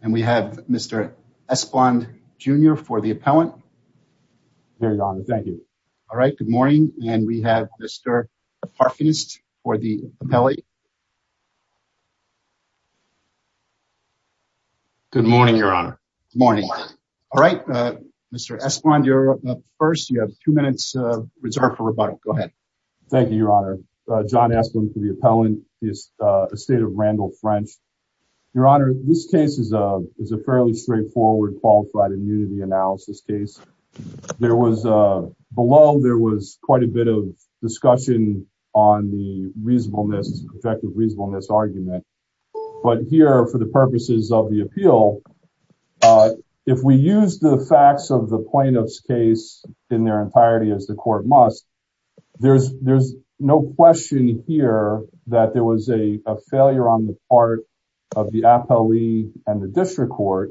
and we have Mr. Espland Jr. for the Appellant. Very honored, thank you. Alright, good morning and we have Mr. Parfenist for the Appellant. Good morning, your Honor. Good morning. Alright, Mr. Espland, you're up first. You have two minutes reserved for rebuttal. Go ahead. Thank you, your Honor. John Espland for the Appellant. The estate of Randall French. Your Honor, this case is a fairly straightforward qualified immunity analysis case. There was, below, there was quite a bit of discussion on the reasonableness, effective reasonableness argument. But here, for the purposes of the appeal, if we use the facts of the plaintiff's case in their entirety as the court must, there's no question here that there was a failure on the part of the appellee and the district court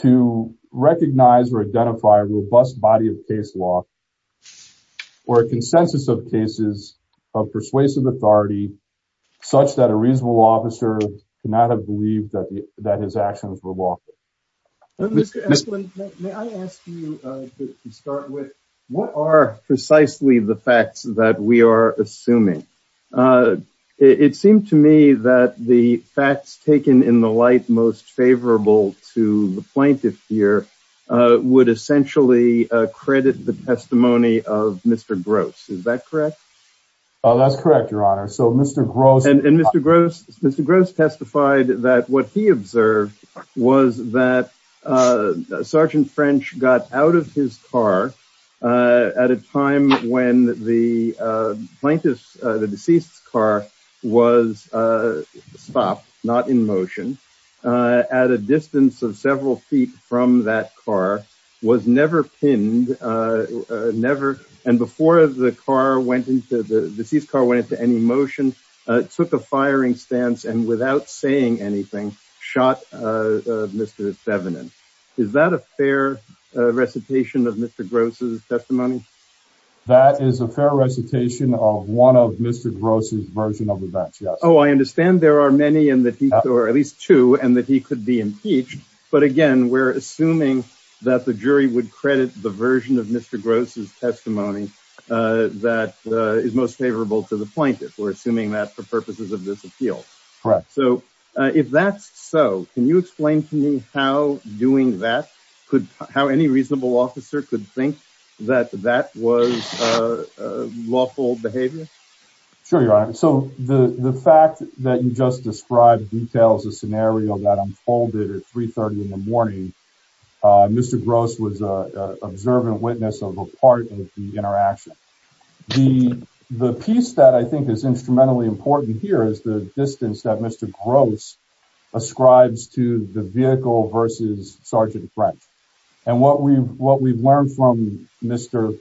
to recognize or identify a robust body of case law or a consensus of cases of persuasive authority such that a reasonable officer could not have believed that his actions were lawful. Mr. Espland, may I ask you to start with what are precisely the facts that we are assuming? It seemed to me that the facts taken in the light most favorable to the plaintiff here would essentially credit the testimony of Mr. Gross. Is that correct? That's correct, your Honor. And Mr. Gross testified that what he observed was that Sergeant French got out of his car at a time when the plaintiff's, the deceased's car was stopped, not in motion, at a distance of several feet from that car, was never pinned, never, and before the car went into, the deceased's car went into any motion, took a firing stance and without saying anything, shot Mr. Thevenin. Is that a fair recitation of Mr. Gross' testimony? That is a fair recitation of one of Mr. Gross' version of the facts, yes. Oh, I understand there are many, or at least two, and that he could be impeached. But again, we're assuming that the jury would credit the version of Mr. Gross' testimony that is most favorable to the plaintiff. We're assuming that for purposes of this appeal. Correct. So if that's so, can you explain to me how doing that, how any reasonable officer could think that that was lawful behavior? Sure, your Honor. So the fact that you just described details a scenario that unfolded at 3.30 in the morning, Mr. Gross was an observant witness of a part of the interaction. The piece that I think is instrumentally important here is the distance that Mr. Gross ascribes to the vehicle versus Sergeant French. And what we've learned from Mr.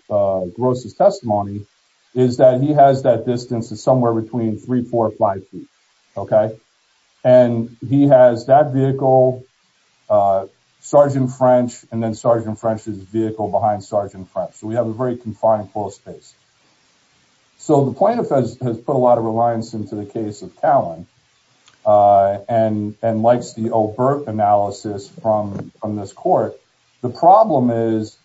Gross' testimony is that he has that distance of somewhere between three, four, five feet. Okay. And he has that vehicle, Sergeant French, and then Sergeant French's vehicle behind Sergeant French. So we have a very confined pool space. So the plaintiff has put a lot of reliance into the case of Cowan and likes the overt analysis from this court. The problem is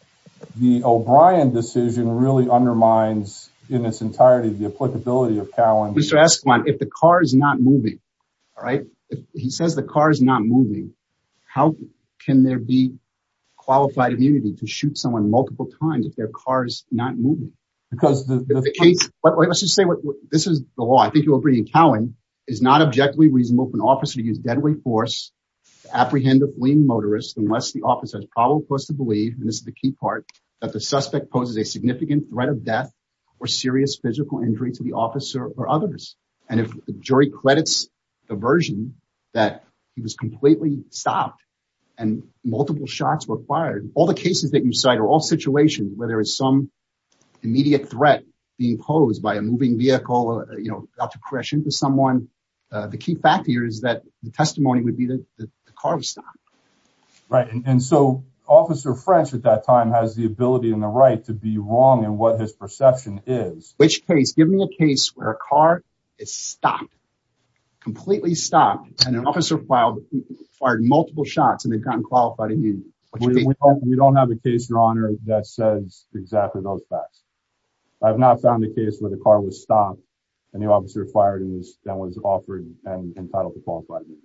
the O'Brien decision really undermines in its entirety the applicability of Cowan. Mr. Esquiman, if the car is not moving, all right, he says the car is not moving. How can there be qualified immunity to shoot someone multiple times if their car is not moving? Because the case… Let's just say this is the law. I think you'll agree. Cowan is not objectively reasonable for an officer to use deadly force to apprehend a fleeing motorist unless the officer has probable cause to believe, and this is the key part, that the suspect poses a significant threat of death or serious physical injury to the officer or others. And if the jury credits the version that he was completely stopped and multiple shots were fired, all the cases that you cite are all situations where there is some immediate threat being posed by a moving vehicle, you know, about to crash into someone. The key fact here is that the testimony would be that the car was stopped. Right. And so Officer French at that time has the ability and the right to be wrong in what his perception is. Give me a case where a car is stopped, completely stopped, and an officer fired multiple shots and they've gotten qualified immunity. We don't have a case, Your Honor, that says exactly those facts. I have not found a case where the car was stopped and the officer fired and was offered and entitled to qualified immunity.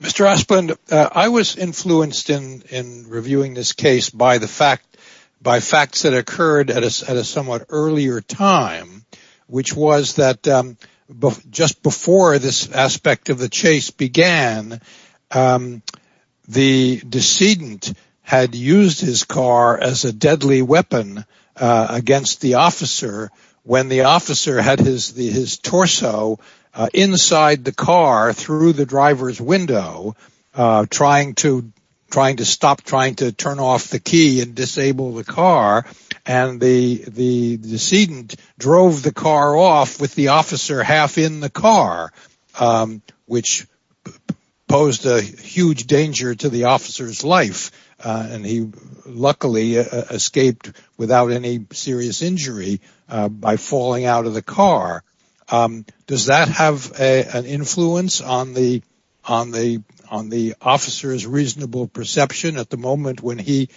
Mr. Asplund, I was influenced in reviewing this case by facts that occurred at a somewhat earlier time, which was that just before this aspect of the chase began, the decedent had used his car as a deadly weapon against the officer. When the officer had his torso inside the car through the driver's window, trying to stop, trying to turn off the key and disable the car, and the decedent drove the car off with the officer half in the car, which posed a huge danger to the officer's life. And he luckily escaped without any serious injury by falling out of the car. Does that have an influence on the officer's reasonable perception at the moment when he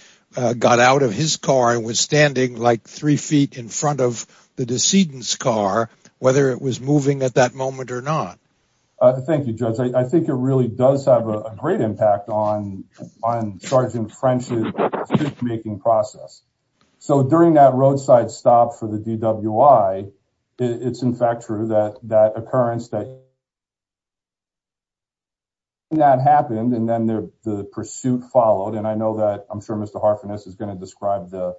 got out of his car and was standing like three feet in front of the decedent's car, whether it was moving at that moment or not? Thank you, Judge. I think it really does have a great impact on Sergeant French's decision-making process. So during that roadside stop for the DWI, it's in fact true that that occurrence that happened and then the pursuit followed. And I know that I'm sure Mr. Harfinis is going to describe the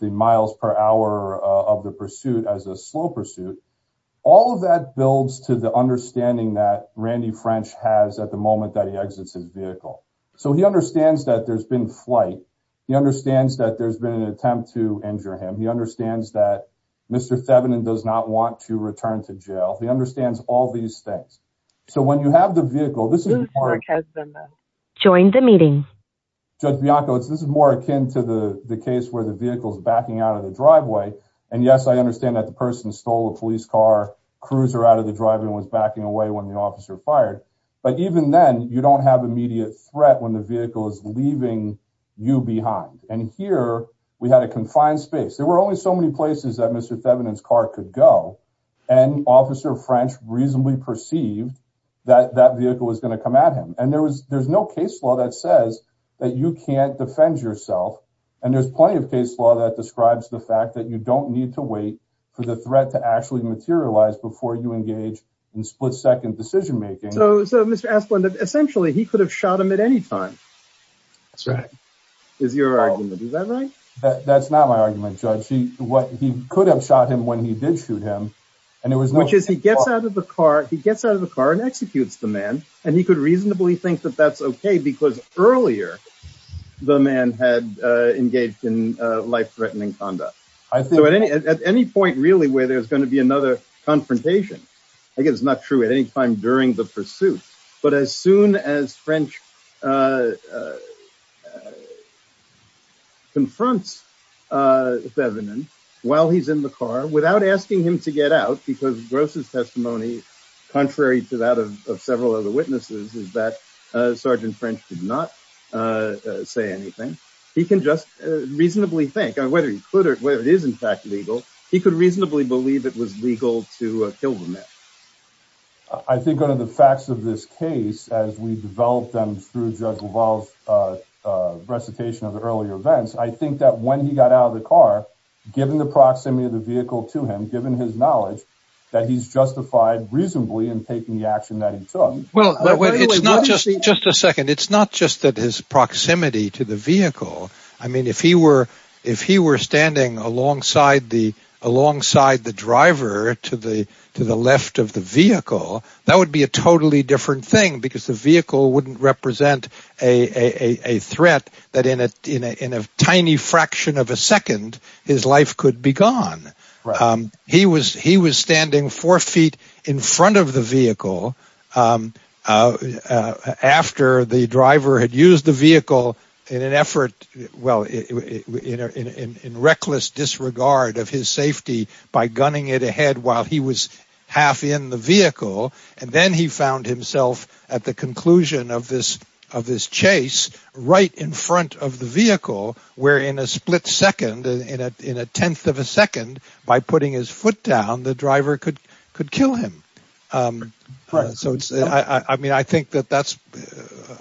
miles per hour of the pursuit as a slow pursuit. All of that builds to the understanding that Randy French has at the moment that he exits his vehicle. So he understands that there's been flight. He understands that there's been an attempt to injure him. He understands that Mr. Thevenin does not want to return to jail. He understands all these things. So when you have the vehicle, this is more akin to the case where the vehicle is backing out of the driveway. And yes, I understand that the person stole a police car, cruiser out of the driveway and was backing away when the officer fired. But even then, you don't have immediate threat when the vehicle is leaving you behind. And here we had a confined space. There were only so many places that Mr. Thevenin's car could go. And Officer French reasonably perceived that that vehicle was going to come at him. And there's no case law that says that you can't defend yourself. And there's plenty of case law that describes the fact that you don't need to wait for the threat to actually materialize before you engage in split-second decision-making. So Mr. Asplund, essentially, he could have shot him at any time. That's right. Is your argument. Is that right? That's not my argument, Judge. He could have shot him when he did shoot him. Which is he gets out of the car. He gets out of the car and executes the man. And he could reasonably think that that's okay because earlier the man had engaged in life-threatening conduct. So at any point, really, where there's going to be another confrontation, I guess it's not true at any time during the pursuit. But as soon as French confronts Thevenin while he's in the car, without asking him to get out, because Gross' testimony, contrary to that of several other witnesses, is that Sergeant French did not say anything. He can just reasonably think, whether he could or whether it is in fact legal, he could reasonably believe it was legal to kill the man. I think one of the facts of this case, as we develop them through Judge LaValle's recitation of the earlier events, I think that when he got out of the car, given the proximity of the vehicle to him, given his knowledge, that he's justified reasonably in taking the action that he took. It's not just his proximity to the vehicle. If he were standing alongside the driver to the left of the vehicle, that would be a totally different thing because the vehicle wouldn't represent a threat that in a tiny fraction of a second, his life could be gone. He was standing four feet in front of the vehicle after the driver had used the vehicle in reckless disregard of his safety by gunning it ahead while he was half in the vehicle. Then he found himself at the conclusion of this chase, right in front of the vehicle, where in a split second, in a tenth of a second, by putting his foot down, the driver could kill him. I think that's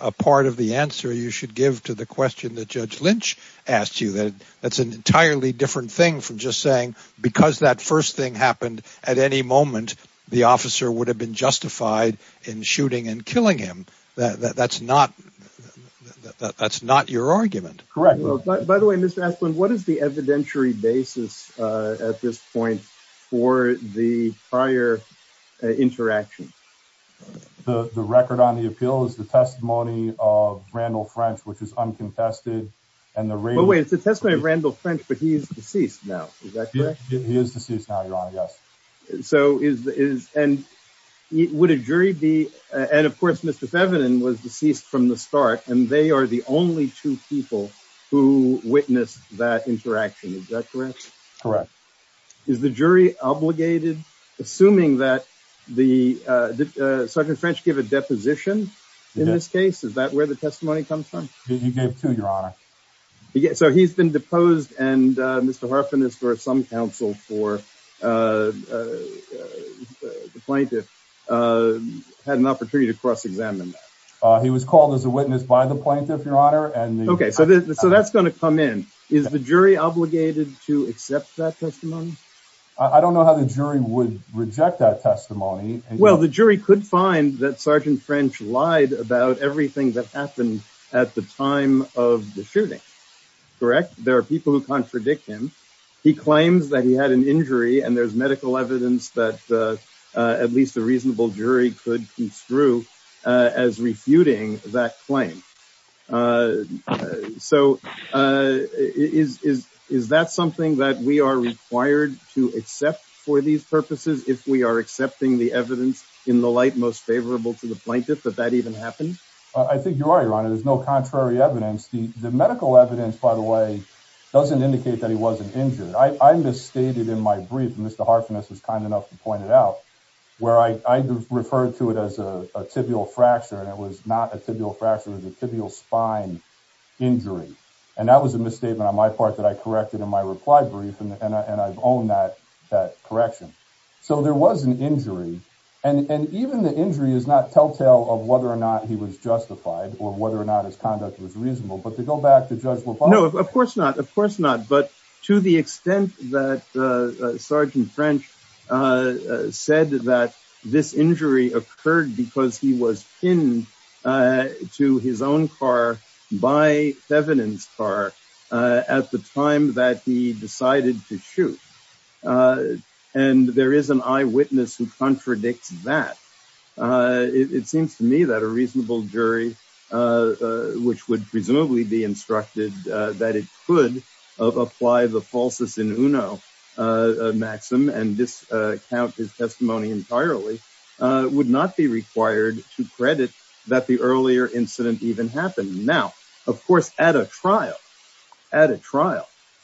a part of the answer you should give to the question that Judge Lynch asked you. That's an entirely different thing from just saying, because that first thing happened at any moment, the officer would have been justified in shooting and killing him. That's not your argument. By the way, Mr. Esplin, what is the evidentiary basis at this point for the prior interaction? The record on the appeal is the testimony of Randall French, which is uncontested. Wait, it's the testimony of Randall French, but he's deceased now. Is that correct? He is deceased now, Your Honor, yes. Would a jury be, and of course, Mr. Thevenin was deceased from the start, and they are the only two people who witnessed that interaction. Is that correct? Correct. Is the jury obligated, assuming that the, did Sergeant French give a deposition in this case? Is that where the testimony comes from? He gave two, Your Honor. So he's been deposed, and Mr. Harfin is for some counsel for the plaintiff, had an opportunity to cross-examine that. He was called as a witness by the plaintiff, Your Honor. Okay, so that's going to come in. Is the jury obligated to accept that testimony? I don't know how the jury would reject that testimony. Well, the jury could find that Sergeant French lied about everything that happened at the time of the shooting, correct? There are people who contradict him. He claims that he had an injury, and there's medical evidence that at least a reasonable jury could construe as refuting that claim. So is that something that we are required to accept for these purposes if we are accepting the evidence in the light most favorable to the plaintiff that that even happened? I think you're right, Your Honor. There's no contrary evidence. The medical evidence, by the way, doesn't indicate that he wasn't injured. I misstated in my brief, and Mr. Harfin was kind enough to point it out, where I referred to it as a tibial fracture, and it was not a tibial fracture. It was a tibial spine injury, and that was a misstatement on my part that I corrected in my reply brief, and I've owned that correction. So there was an injury, and even the injury is not telltale of whether or not he was justified or whether or not his conduct was reasonable. No, of course not. Of course not. But to the extent that Sergeant French said that this injury occurred because he was pinned to his own car by Thevenin's car at the time that he decided to shoot, and there is an eyewitness who contradicts that, it seems to me that a reasonable jury, which would presumably be instructed that it could apply the falsus in uno maxim and discount his testimony entirely, would not be required to credit that the earlier incident even happened. Now, of course, at a trial,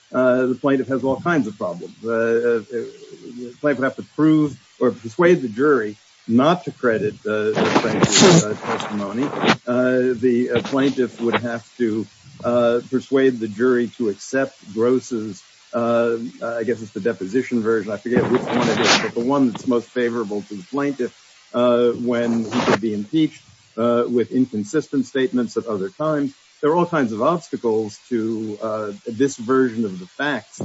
the plaintiff has all kinds of problems. The plaintiff would have to prove or persuade the jury not to credit the plaintiff's testimony. The plaintiff would have to persuade the jury to accept Gross's, I guess it's the deposition version, I forget which one it is, but the one that's most favorable to the plaintiff when he could be impeached with inconsistent statements at other times. There are all kinds of obstacles to this version of the facts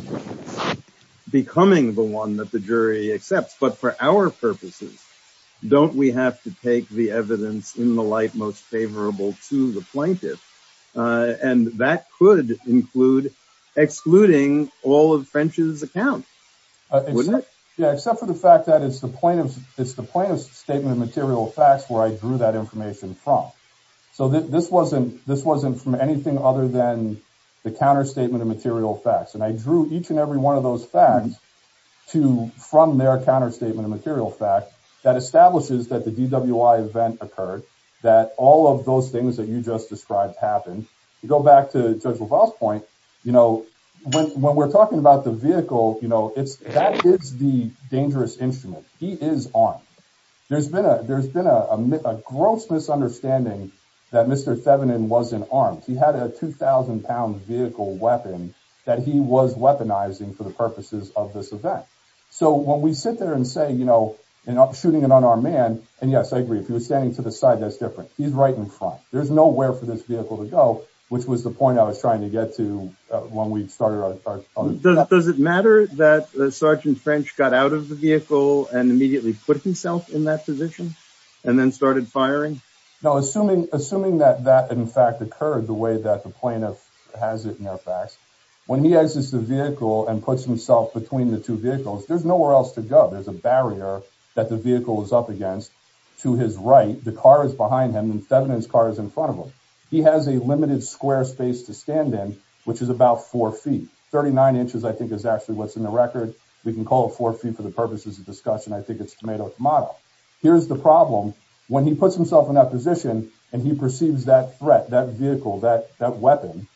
becoming the one that the jury accepts. But for our purposes, don't we have to take the evidence in the light most favorable to the plaintiff? And that could include excluding all of French's account, wouldn't it? Yeah, except for the fact that it's the plaintiff's statement of material facts where I drew that information from. So this wasn't from anything other than the counterstatement of material facts. And I drew each and every one of those facts from their counterstatement of material facts that establishes that the DWI event occurred, that all of those things that you just described happened. You go back to Judge LaValle's point, you know, when we're talking about the vehicle, you know, that is the dangerous instrument. He is armed. There's been a gross misunderstanding that Mr. Thevenin wasn't armed. He had a 2000 pound vehicle weapon that he was weaponizing for the purposes of this event. So when we sit there and say, you know, and I'm shooting it on our man. And yes, I agree. If he was standing to the side, that's different. He's right in front. There's nowhere for this vehicle to go, which was the point I was trying to get to when we started. Does it matter that Sergeant French got out of the vehicle and immediately put himself in that position and then started firing? Now, assuming assuming that that, in fact, occurred the way that the plaintiff has it in their facts, when he exits the vehicle and puts himself between the two vehicles, there's nowhere else to go. There's a barrier that the vehicle is up against to his right. The car is behind him. Thevenin's car is in front of him. He has a limited square space to stand in, which is about four feet. Thirty nine inches, I think, is actually what's in the record. We can call it four feet for the purposes of discussion. I think it's tomato tomato. Here's the problem. When he puts himself in that position and he perceives that threat, that vehicle, that weapon,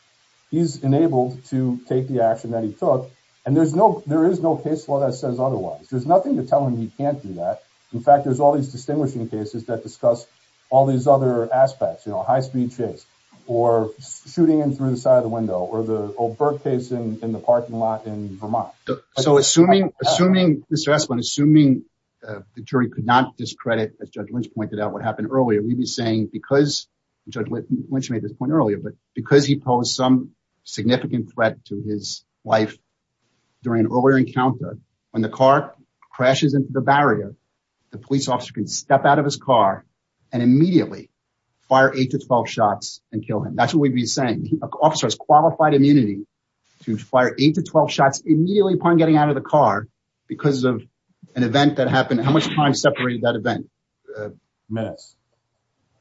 he's enabled to take the action that he took. And there's no there is no case law that says otherwise. There's nothing to tell him he can't do that. In fact, there's all these distinguishing cases that discuss all these other aspects. You know, high speed chase or shooting in through the side of the window or the Oberg case in the parking lot in Vermont. So assuming assuming the stress on assuming the jury could not discredit, as Judge Lynch pointed out, what happened earlier, we'd be saying because Judge Lynch made this point earlier, but because he posed some significant threat to his life during an earlier encounter, when the car crashes into the barrier, the police officer can step out of his car and immediately fire eight to 12 shots and kill him. That's what we'd be saying. An officer has qualified immunity to fire eight to 12 shots immediately upon getting out of the car because of an event that happened. How much time separated that event? Minutes.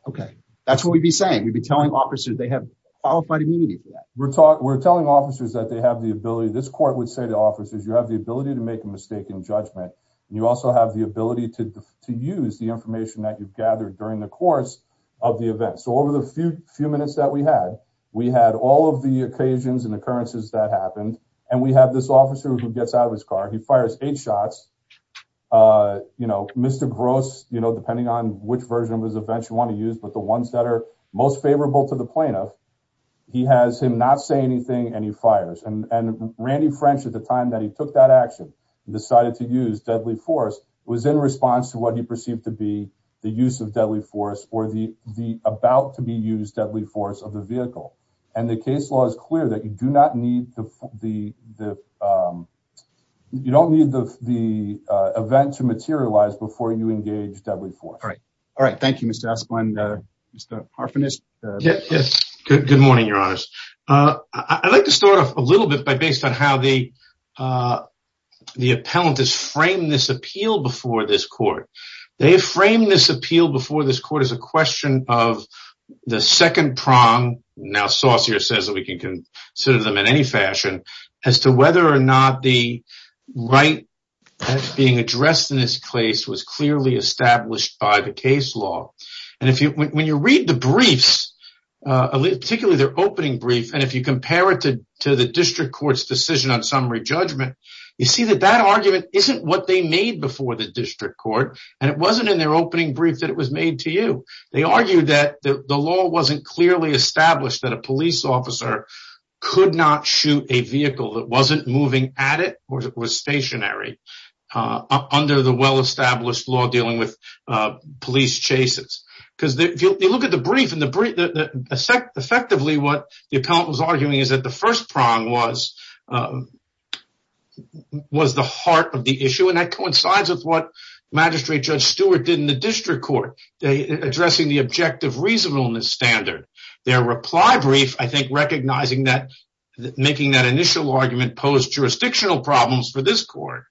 OK, that's what we'd be saying. We'd be telling officers they have qualified immunity. We're talking we're telling officers that they have the ability. This court would say to officers, you have the ability to make a mistake in judgment. You also have the ability to to use the information that you've gathered during the course of the event. So over the few few minutes that we had, we had all of the occasions and occurrences that happened. And we have this officer who gets out of his car. He fires eight shots. You know, Mr. Gross, you know, depending on which version was eventually want to use. But the ones that are most favorable to the plaintiff, he has him not say anything and he fires. And Randy French, at the time that he took that action, decided to use deadly force. It was in response to what he perceived to be the use of deadly force or the the about to be used deadly force of the vehicle. And the case law is clear that you do not need the the you don't need the the event to materialize before you engage deadly force. All right. All right. Thank you, Mr. Asplen. Mr. Parfenis. Yes. Good morning, Your Honor. I'd like to start off a little bit by based on how the the appellant has framed this appeal before this court. They have framed this appeal before this court as a question of the second prong. Now, Saucer says that we can consider them in any fashion as to whether or not the right being addressed in this case was clearly established. By the case law. And if you when you read the briefs, particularly their opening brief, and if you compare it to to the district court's decision on summary judgment, you see that that argument isn't what they made before the district court. And it wasn't in their opening brief that it was made to you. They argued that the law wasn't clearly established that a police officer could not shoot a vehicle that wasn't moving at it. Of course, it was stationary under the well-established law dealing with police chases. Because if you look at the brief and the effect, effectively, what the appellant was arguing is that the first prong was was the heart of the issue. And that coincides with what Magistrate Judge Stewart did in the district court. Addressing the objective reasonableness standard, their reply brief, I think recognizing that making that initial argument posed jurisdictional problems for this court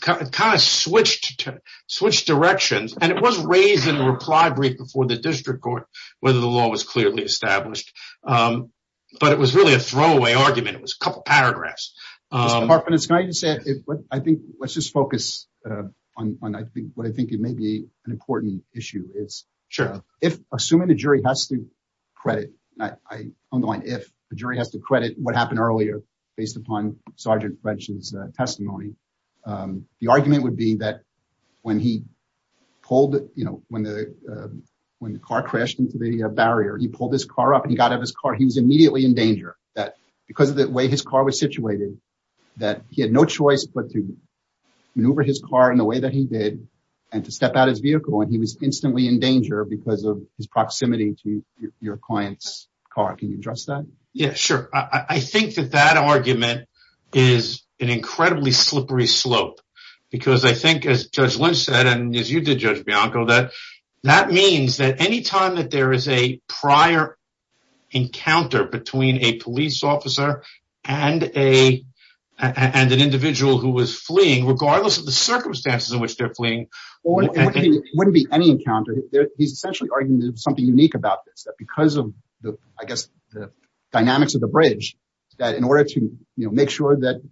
kind of switched to switch directions. And it was raised in a reply brief before the district court, whether the law was clearly established. But it was really a throwaway argument. It was a couple paragraphs. Can I just say I think let's just focus on I think what I think it may be an important issue. It's sure. If assuming the jury has to credit. I don't mind if the jury has to credit what happened earlier based upon Sergeant French's testimony. The argument would be that when he pulled it, you know, when the when the car crashed into the barrier, he pulled his car up and he got out of his car. He was immediately in danger that because of the way his car was situated, that he had no choice but to maneuver his car in the way that he did and to step out his vehicle. And he was instantly in danger because of his proximity to your client's car. Can you address that? Yeah, sure. I think that that argument is an incredibly slippery slope because I think as Judge Lynch said, and as you did, Judge Bianco, that that means that any time that there is a prior encounter between a police officer and a and an individual who was fleeing, regardless of the circumstances in which they're fleeing. It wouldn't be any encounter. He's essentially arguing something unique about this, that because of the, I guess, the dynamics of the bridge, that in order to make sure that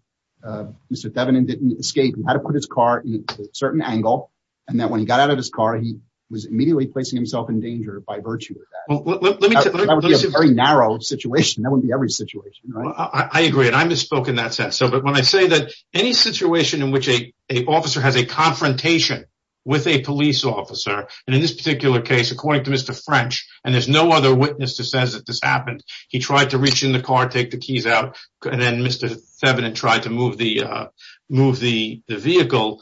Mr. Devon and didn't escape and had to put his car in a certain angle and that when he got out of his car, he was immediately placing himself in danger by virtue of that. Very narrow situation. That would be every situation. I agree. And I misspoke in that sense. So but when I say that any situation in which a officer has a confrontation with a police officer and in this particular case, according to Mr. French, and there's no other witness to says that this happened, he tried to reach in the car, take the keys out. And then Mr. Devin and tried to move the move the vehicle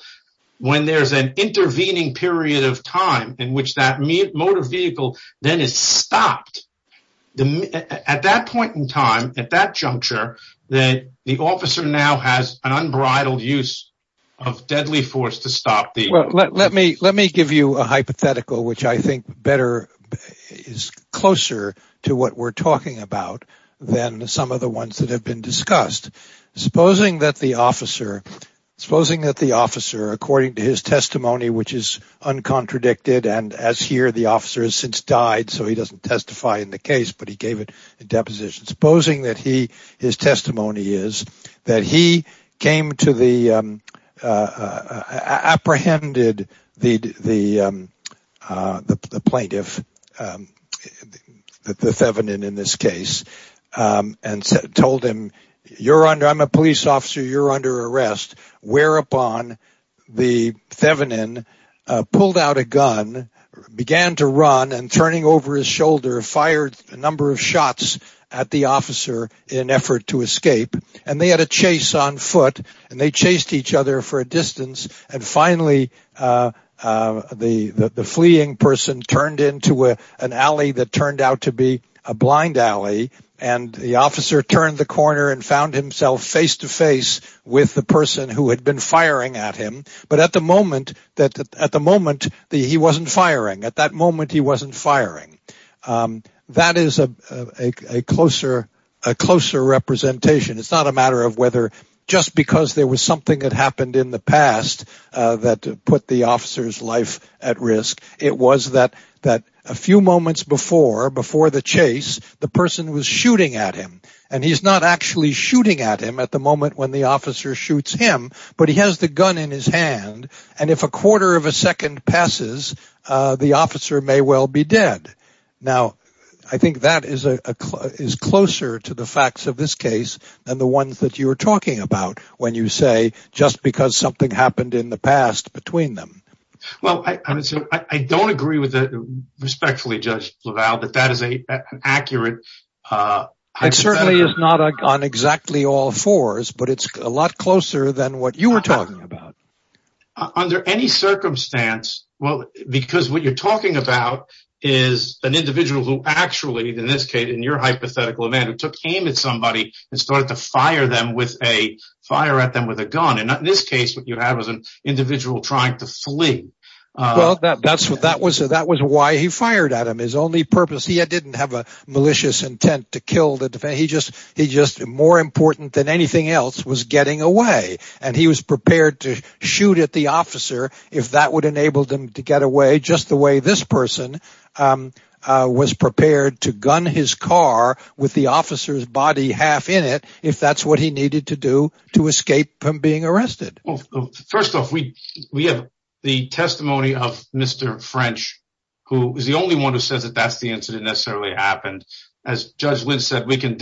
when there's an intervening period of time in which that motor vehicle then is stopped at that point in time at that juncture that the officer now has an unbridled use of deadly force to stop the. Well, let me let me give you a hypothetical, which I think better is closer to what we're talking about than some of the ones that have been discussed, supposing that the officer, supposing that the officer, according to his testimony, which is uncontradicted. And as here, the officers since died, so he doesn't testify in the case, but he gave it a deposition, supposing that he his testimony is that he came to the apprehended, the plaintiff, the Thevenin in this case, and told him, you're under I'm a police officer. You're under arrest, whereupon the Thevenin pulled out a gun, began to run and turning over his shoulder, fired a number of shots at the officer in effort to escape. And they had a chase on foot and they chased each other for a distance. And finally, the fleeing person turned into an alley that turned out to be a blind alley. And the officer turned the corner and found himself face to face with the person who had been firing at him. But at the moment, he wasn't firing. At that moment, he wasn't firing. That is a closer representation. It's not a matter of whether just because there was something that happened in the past that put the officer's life at risk. It was that a few moments before the chase, the person was shooting at him. And he's not actually shooting at him at the moment when the officer shoots him, but he has the gun in his hand. And if a quarter of a second passes, the officer may well be dead. Now, I think that is closer to the facts of this case than the ones that you were talking about when you say just because something happened in the past between them. Well, I don't agree with that respectfully, Judge LaValle, but that is an accurate hypothesis. It certainly is not on exactly all fours, but it's a lot closer than what you were talking about. Under any circumstance, because what you're talking about is an individual who actually, in this case, in your hypothetical event, who took aim at somebody and started to fire at them with a gun. In this case, what you have is an individual trying to flee. Well, that was why he fired at him. His only purpose, he didn't have a malicious intent to kill the defendant. He just, more important than anything else, was getting away. And he was prepared to shoot at the officer if that would enable him to get away just the way this person was prepared to gun his car with the officer's body half in it if that's what he needed to do to escape from being arrested. Well, first off, we have the testimony of Mr. French, who is the only one who says that that's the incident necessarily happened. As Judge Wynn said, we can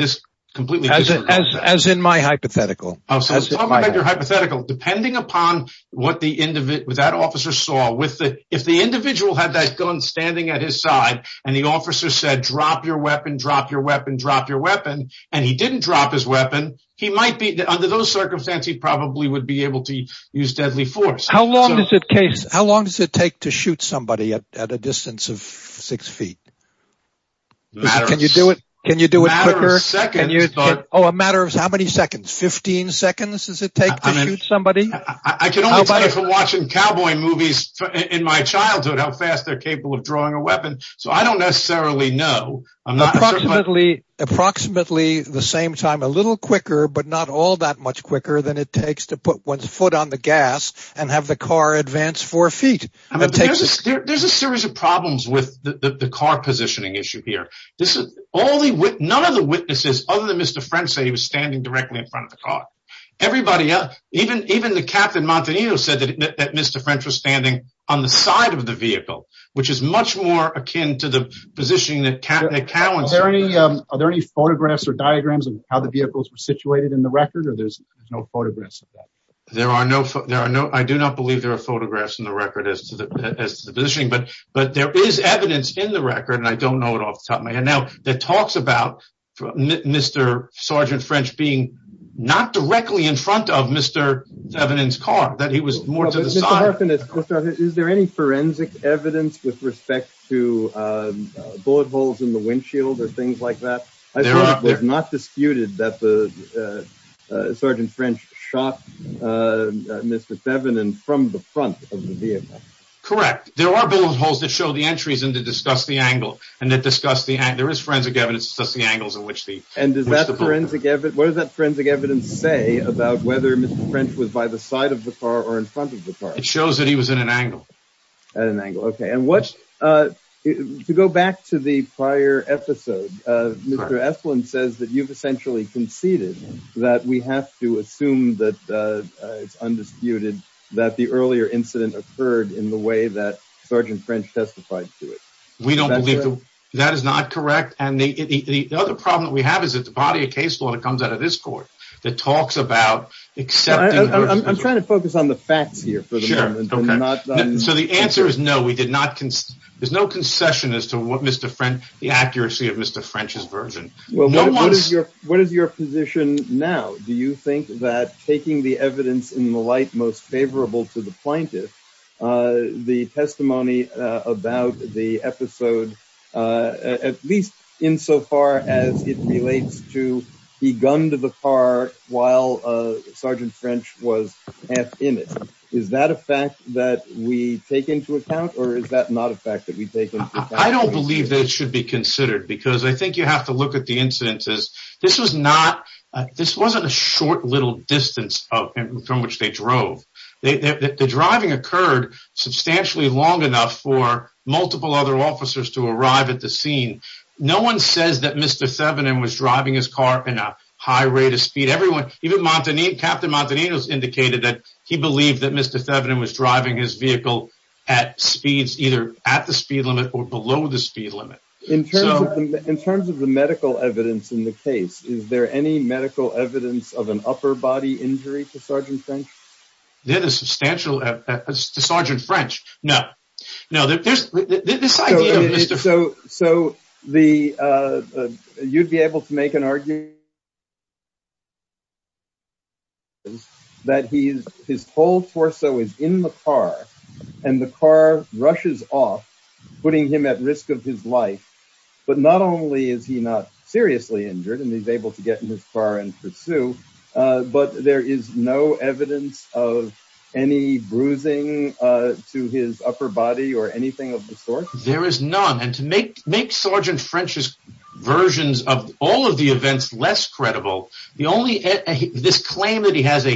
completely disagree on that. As in my hypothetical. Hypothetically, depending upon what the end of it was, that officer saw with it, if the individual had that gun standing at his side and the officer said, drop your weapon, drop your weapon, drop your weapon, and he didn't drop his weapon, he might be under those circumstances. He probably would be able to use deadly force. How long is it case? How long does it take to shoot somebody at a distance of six feet? Can you do it? Can you do it quicker? A matter of seconds. Oh, a matter of how many seconds? Fifteen seconds does it take to shoot somebody? I can only tell you from watching cowboy movies in my childhood how fast they're capable of drawing a weapon, so I don't necessarily know. Approximately the same time. A little quicker, but not all that much quicker than it takes to put one's foot on the gas and have the car advance four feet. There's a series of problems with the car positioning issue here. None of the witnesses, other than Mr. French, say he was standing directly in front of the car. Everybody else, even the Captain Montanino said that Mr. French was standing on the side of the vehicle, which is much more akin to the positioning that Captain McAllen said. Are there any photographs or diagrams of how the vehicles were situated in the record, or there's no photographs of that? I do not believe there are photographs in the record as to the positioning, but there is evidence in the record, and I don't know it off the top of my head now, that talks about Mr. Sergeant French being not directly in front of Mr. Evans' car, that he was more to the side. Is there any forensic evidence with respect to bullet holes in the windshield or things like that? I suppose it was not disputed that the Sergeant French shot Mr. Evans from the front of the vehicle. Correct. There are bullet holes that show the entries and that discuss the angle, and that discuss the angle. There is forensic evidence that discusses the angles in which the bullet holes were shot. And what does that forensic evidence say about whether Mr. French was by the side of the car or in front of the car? It shows that he was in an angle. To go back to the prior episode, Mr. Esplin says that you've essentially conceded that we have to assume that it's undisputed that the earlier incident occurred in the way that Sergeant French testified to it. We don't believe that. That is not correct. And the other problem that we have is that the body of case law that comes out of this court that talks about accepting… I'm trying to focus on the facts here for the moment. So the answer is no. There's no concession as to the accuracy of Mr. French's version. What is your position now? Do you think that taking the evidence in the light most favorable to the plaintiff, the testimony about the episode, at least insofar as it relates to the gun to the car while Sergeant French was half in it, is that a fact that we take into account or is that not a fact that we take into account? I don't believe that it should be considered because I think you have to look at the incidences. This wasn't a short little distance from which they drove. The driving occurred substantially long enough for multiple other officers to arrive at the scene. No one says that Mr. Thevenin was driving his car at a high rate of speed. Captain Montanino indicated that he believed that Mr. Thevenin was driving his vehicle at speeds either at the speed limit or below the speed limit. In terms of the medical evidence in the case, is there any medical evidence of an upper body injury to Sergeant French? There is substantial evidence to Sergeant French. No. No. So you'd be able to make an argument that his whole torso is in the car and the car rushes off, putting him at risk of his life. But not only is he not seriously injured and he's able to get in his car and pursue, but there is no evidence of any bruising to his upper body or anything of the sort. There is none. And to make Sergeant French's versions of all of the events less credible, this claim that he has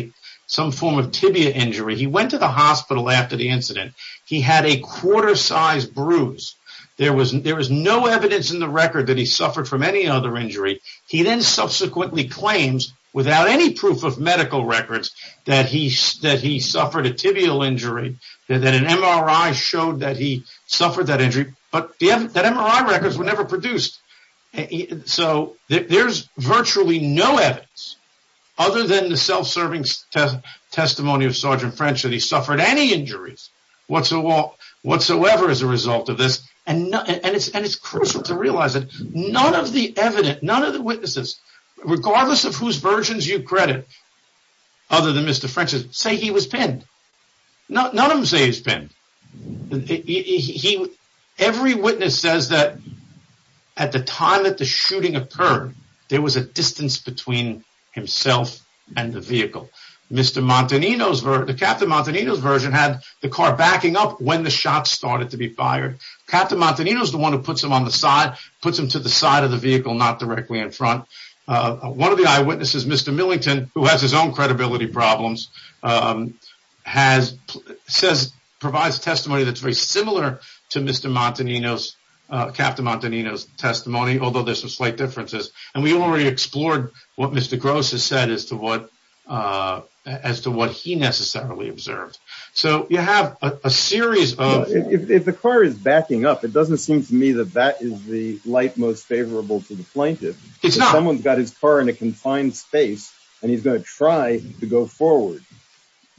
some form of tibia injury, he went to the hospital after the incident. He had a quarter size bruise. There was no evidence in the record that he suffered from any other injury. He then subsequently claims without any proof of medical records that he suffered a tibial injury, that an MRI showed that he suffered that injury. But the MRI records were never produced. So there's virtually no evidence other than the self-serving testimony of Sergeant French that he suffered any injuries whatsoever as a result of this. And it's crucial to realize that none of the evidence, none of the witnesses, regardless of whose versions you credit, other than Mr. French's, say he was pinned. None of them say he was pinned. Every witness says that at the time that the shooting occurred, there was a distance between himself and the vehicle. Captain Montanino's version had the car backing up when the shots started to be fired. Captain Montanino's the one who puts him on the side, puts him to the side of the vehicle, not directly in front. One of the eyewitnesses, Mr. Millington, who has his own credibility problems, provides testimony that's very similar to Captain Montanino's testimony, although there's some slight differences. And we already explored what Mr. Gross has said as to what he necessarily observed. If the car is backing up, it doesn't seem to me that that is the light most favorable to the plaintiff. If someone's got his car in a confined space and he's going to try to go forward,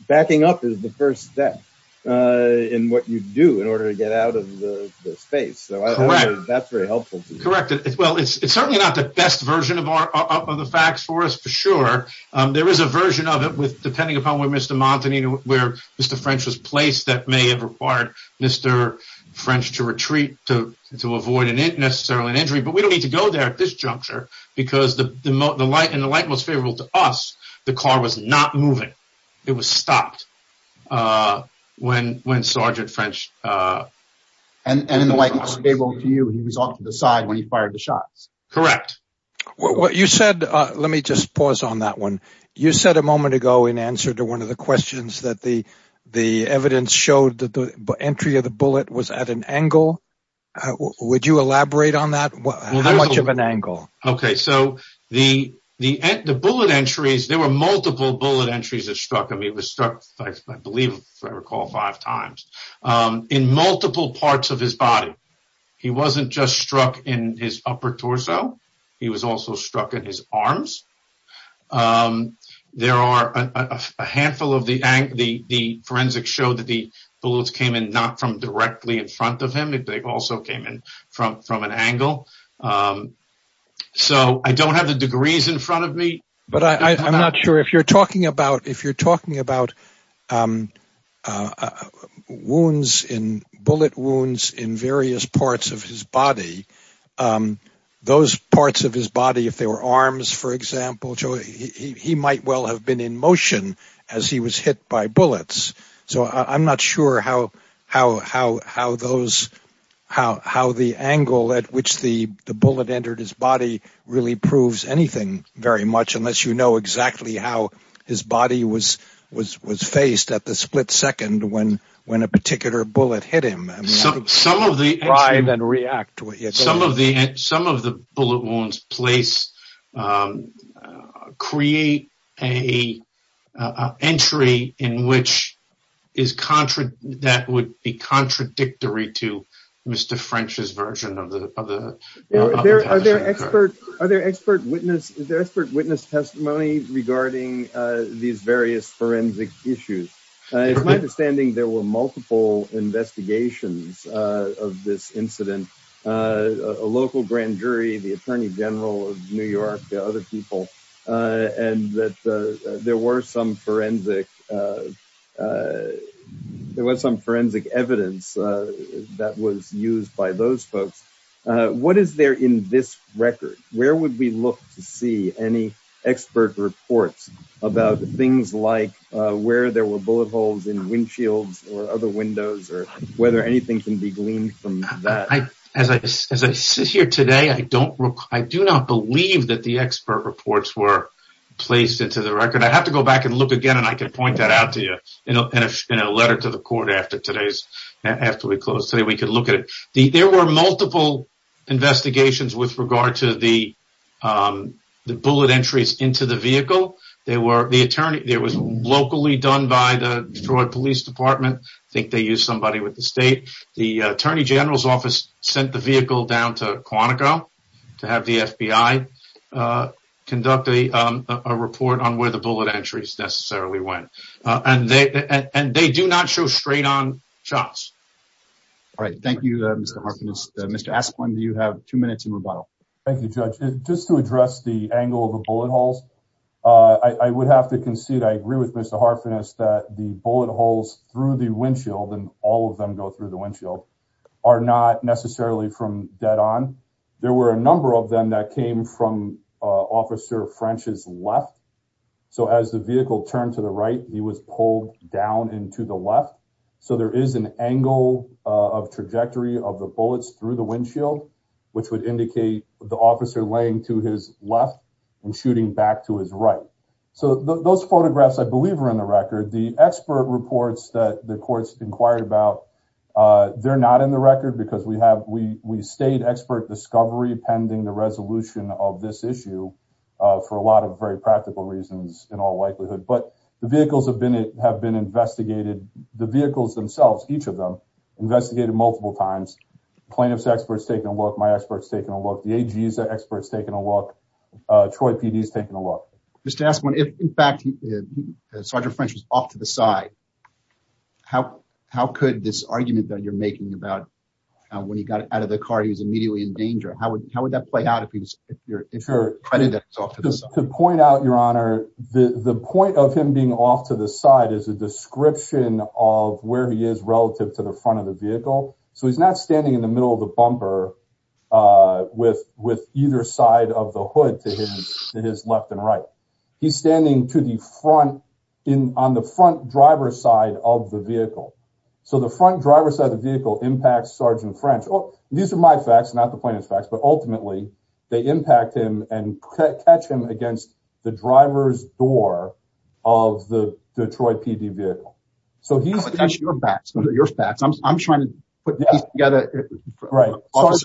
backing up is the first step in what you do in order to get out of the space. So that's very helpful. Correct. Well, it's certainly not the best version of the facts for us, for sure. There is a version of it with depending upon where Mr. Montanino, where Mr. French was placed, that may have required Mr. French to retreat to avoid necessarily an injury. But we don't need to go there at this juncture because in the light most favorable to us, the car was not moving. It was stopped when Sergeant French... And in the light most favorable to you, he was off to the side when he fired the shots. Correct. What you said, let me just pause on that one. You said a moment ago in answer to one of the questions that the evidence showed that the entry of the bullet was at an angle. Would you elaborate on that? How much of an angle? OK, so the bullet entries, there were multiple bullet entries that struck him. He was struck, I believe, if I recall, five times in multiple parts of his body. He wasn't just struck in his upper torso. He was also struck in his arms. There are a handful of the forensic show that the bullets came in not from directly in front of him. They also came in from an angle. So I don't have the degrees in front of me. I'm not sure if you're talking about bullet wounds in various parts of his body. Those parts of his body, if they were arms, for example, he might well have been in motion as he was hit by bullets. So I'm not sure how the angle at which the bullet entered his body really proves anything very much unless you know exactly how his body was faced at the split second when a particular bullet hit him. Some of the bullet wounds create an entry that would be contradictory to Mr. French's version. Are there expert witness testimony regarding these various forensic issues? It's my understanding there were multiple investigations of this incident. A local grand jury, the attorney general of New York, the other people, and that there was some forensic evidence that was used by those folks. What is there in this record? Where would we look to see any expert reports about things like where there were bullet holes in windshields or other windows or whether anything can be gleaned from that? As I sit here today, I do not believe that the expert reports were placed into the record. I have to go back and look again, and I can point that out to you in a letter to the court after we close today. There were multiple investigations with regard to the bullet entries into the vehicle. They were locally done by the Detroit Police Department. I think they used somebody with the state. The attorney general's office sent the vehicle down to Quantico to have the FBI conduct a report on where the bullet entries necessarily went. And they do not show straight on shots. All right. Thank you, Mr. Mr. Asplen, do you have two minutes in rebuttal? Thank you, Judge. Just to address the angle of the bullet holes, I would have to concede. I agree with Mr. Harfen is that the bullet holes through the windshield and all of them go through the windshield are not necessarily from dead on. There were a number of them that came from Officer French's left. So as the vehicle turned to the right, he was pulled down into the left. So there is an angle of trajectory of the bullets through the windshield, which would indicate the officer laying to his left and shooting back to his right. So those photographs, I believe, are in the record. The expert reports that the courts inquired about, they're not in the record because we have we we stayed expert discovery pending the resolution of this issue for a lot of very practical reasons in all likelihood. But the vehicles have been have been investigated. The vehicles themselves, each of them investigated multiple times. Plaintiff's experts taking a look. My experts taking a look. The AG's experts taking a look. Troy PD is taking a look. Just to ask one, if, in fact, Sergeant French was off to the side, how how could this argument that you're making about when he got out of the car, he was immediately in danger. How would how would that play out if you're if you're ready to point out your honor? The point of him being off to the side is a description of where he is relative to the front of the vehicle. So he's not standing in the middle of the bumper with with either side of the hood to his left and right. He's standing to the front in on the front driver's side of the vehicle. So the front driver's side of the vehicle impacts Sergeant French. These are my facts, not the plaintiff's facts, but ultimately they impact him and catch him against the driver's door of the Detroit PD vehicle. So here's your facts, your facts. I'm trying to put these together. Right.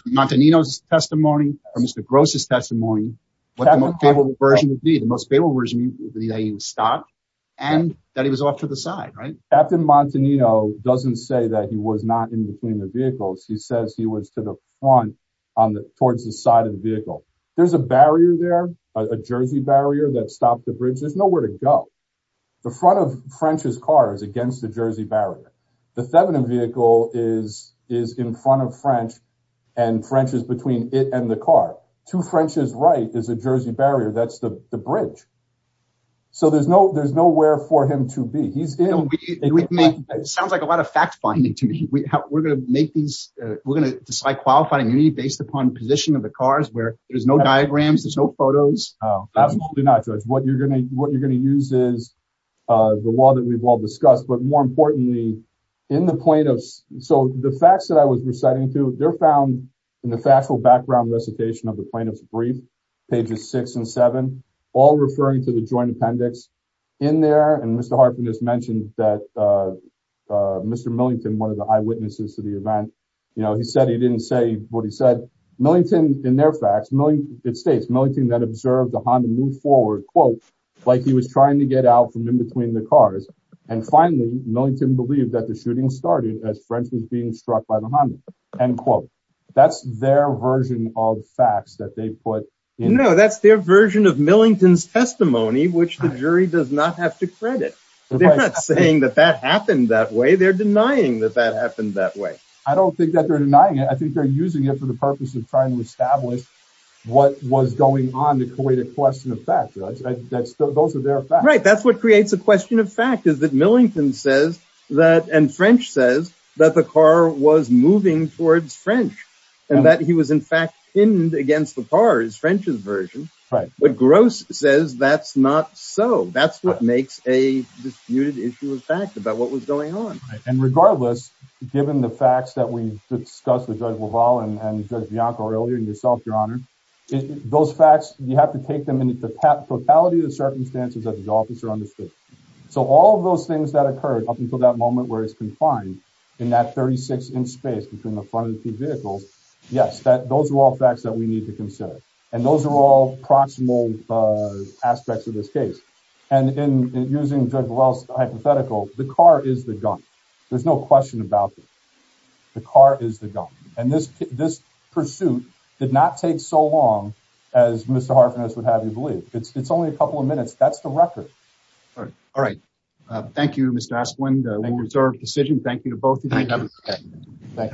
Montanino's testimony or Mr. Gross's testimony. What the most favorable version would be, the most favorable version would be that he was stopped and that he was off to the side. Right. Captain Montanino doesn't say that he was not in between the vehicles. He says he was to the front on the towards the side of the vehicle. There's a barrier there, a Jersey barrier that stopped the bridge. There's nowhere to go. The front of French's car is against the Jersey barrier. The Thevenin vehicle is is in front of French and French is between it and the car to French's right is a Jersey barrier. That's the bridge. So there's no there's nowhere for him to be. He's in. It sounds like a lot of fact finding to me. We're going to make these. We're going to decide qualifying based upon position of the cars where there's no diagrams. There's no photos. Absolutely not. What you're going to what you're going to use is the law that we've all discussed. But more importantly, in the plaintiffs. So the facts that I was reciting to their found in the factual background recitation of the plaintiff's brief, pages six and seven, all referring to the joint appendix in there. And Mr. Hartman has mentioned that Mr. Millington, one of the eyewitnesses to the event, you know, he said he didn't say what he said. Millington in their facts. It states milking that observed the Honda move forward, quote, like he was trying to get out from in between the cars. And finally, Millington believed that the shooting started as French was being struck by the Honda and quote, that's their version of facts that they put. You know, that's their version of Millington's testimony, which the jury does not have to credit. They're not saying that that happened that way. They're denying that that happened that way. I don't think that they're denying it. I think they're using it for the purpose of trying to establish what was going on to create a question of fact. Those are their right. That's what creates a question of fact is that Millington says that. And French says that the car was moving towards French and that he was, in fact, pinned against the bars, French's version. Right. But Gross says that's not so. That's what makes a disputed issue of fact about what was going on. And regardless, given the facts that we discussed with Judge LaValle and Judge Bianco earlier and yourself, Your Honor, those facts, you have to take them into the totality of the circumstances that the officer understood. So all of those things that occurred up until that moment where he's confined in that 36 inch space between the front of the two vehicles. Yes, those are all facts that we need to consider. And those are all proximal aspects of this case. And in using Judge LaValle's hypothetical, the car is the gun. There's no question about it. The car is the gun. And this this pursuit did not take so long as Mr. A couple of minutes. That's the record. All right. Thank you, Mr. Asplund. Reserved decision. Thank you to both of you.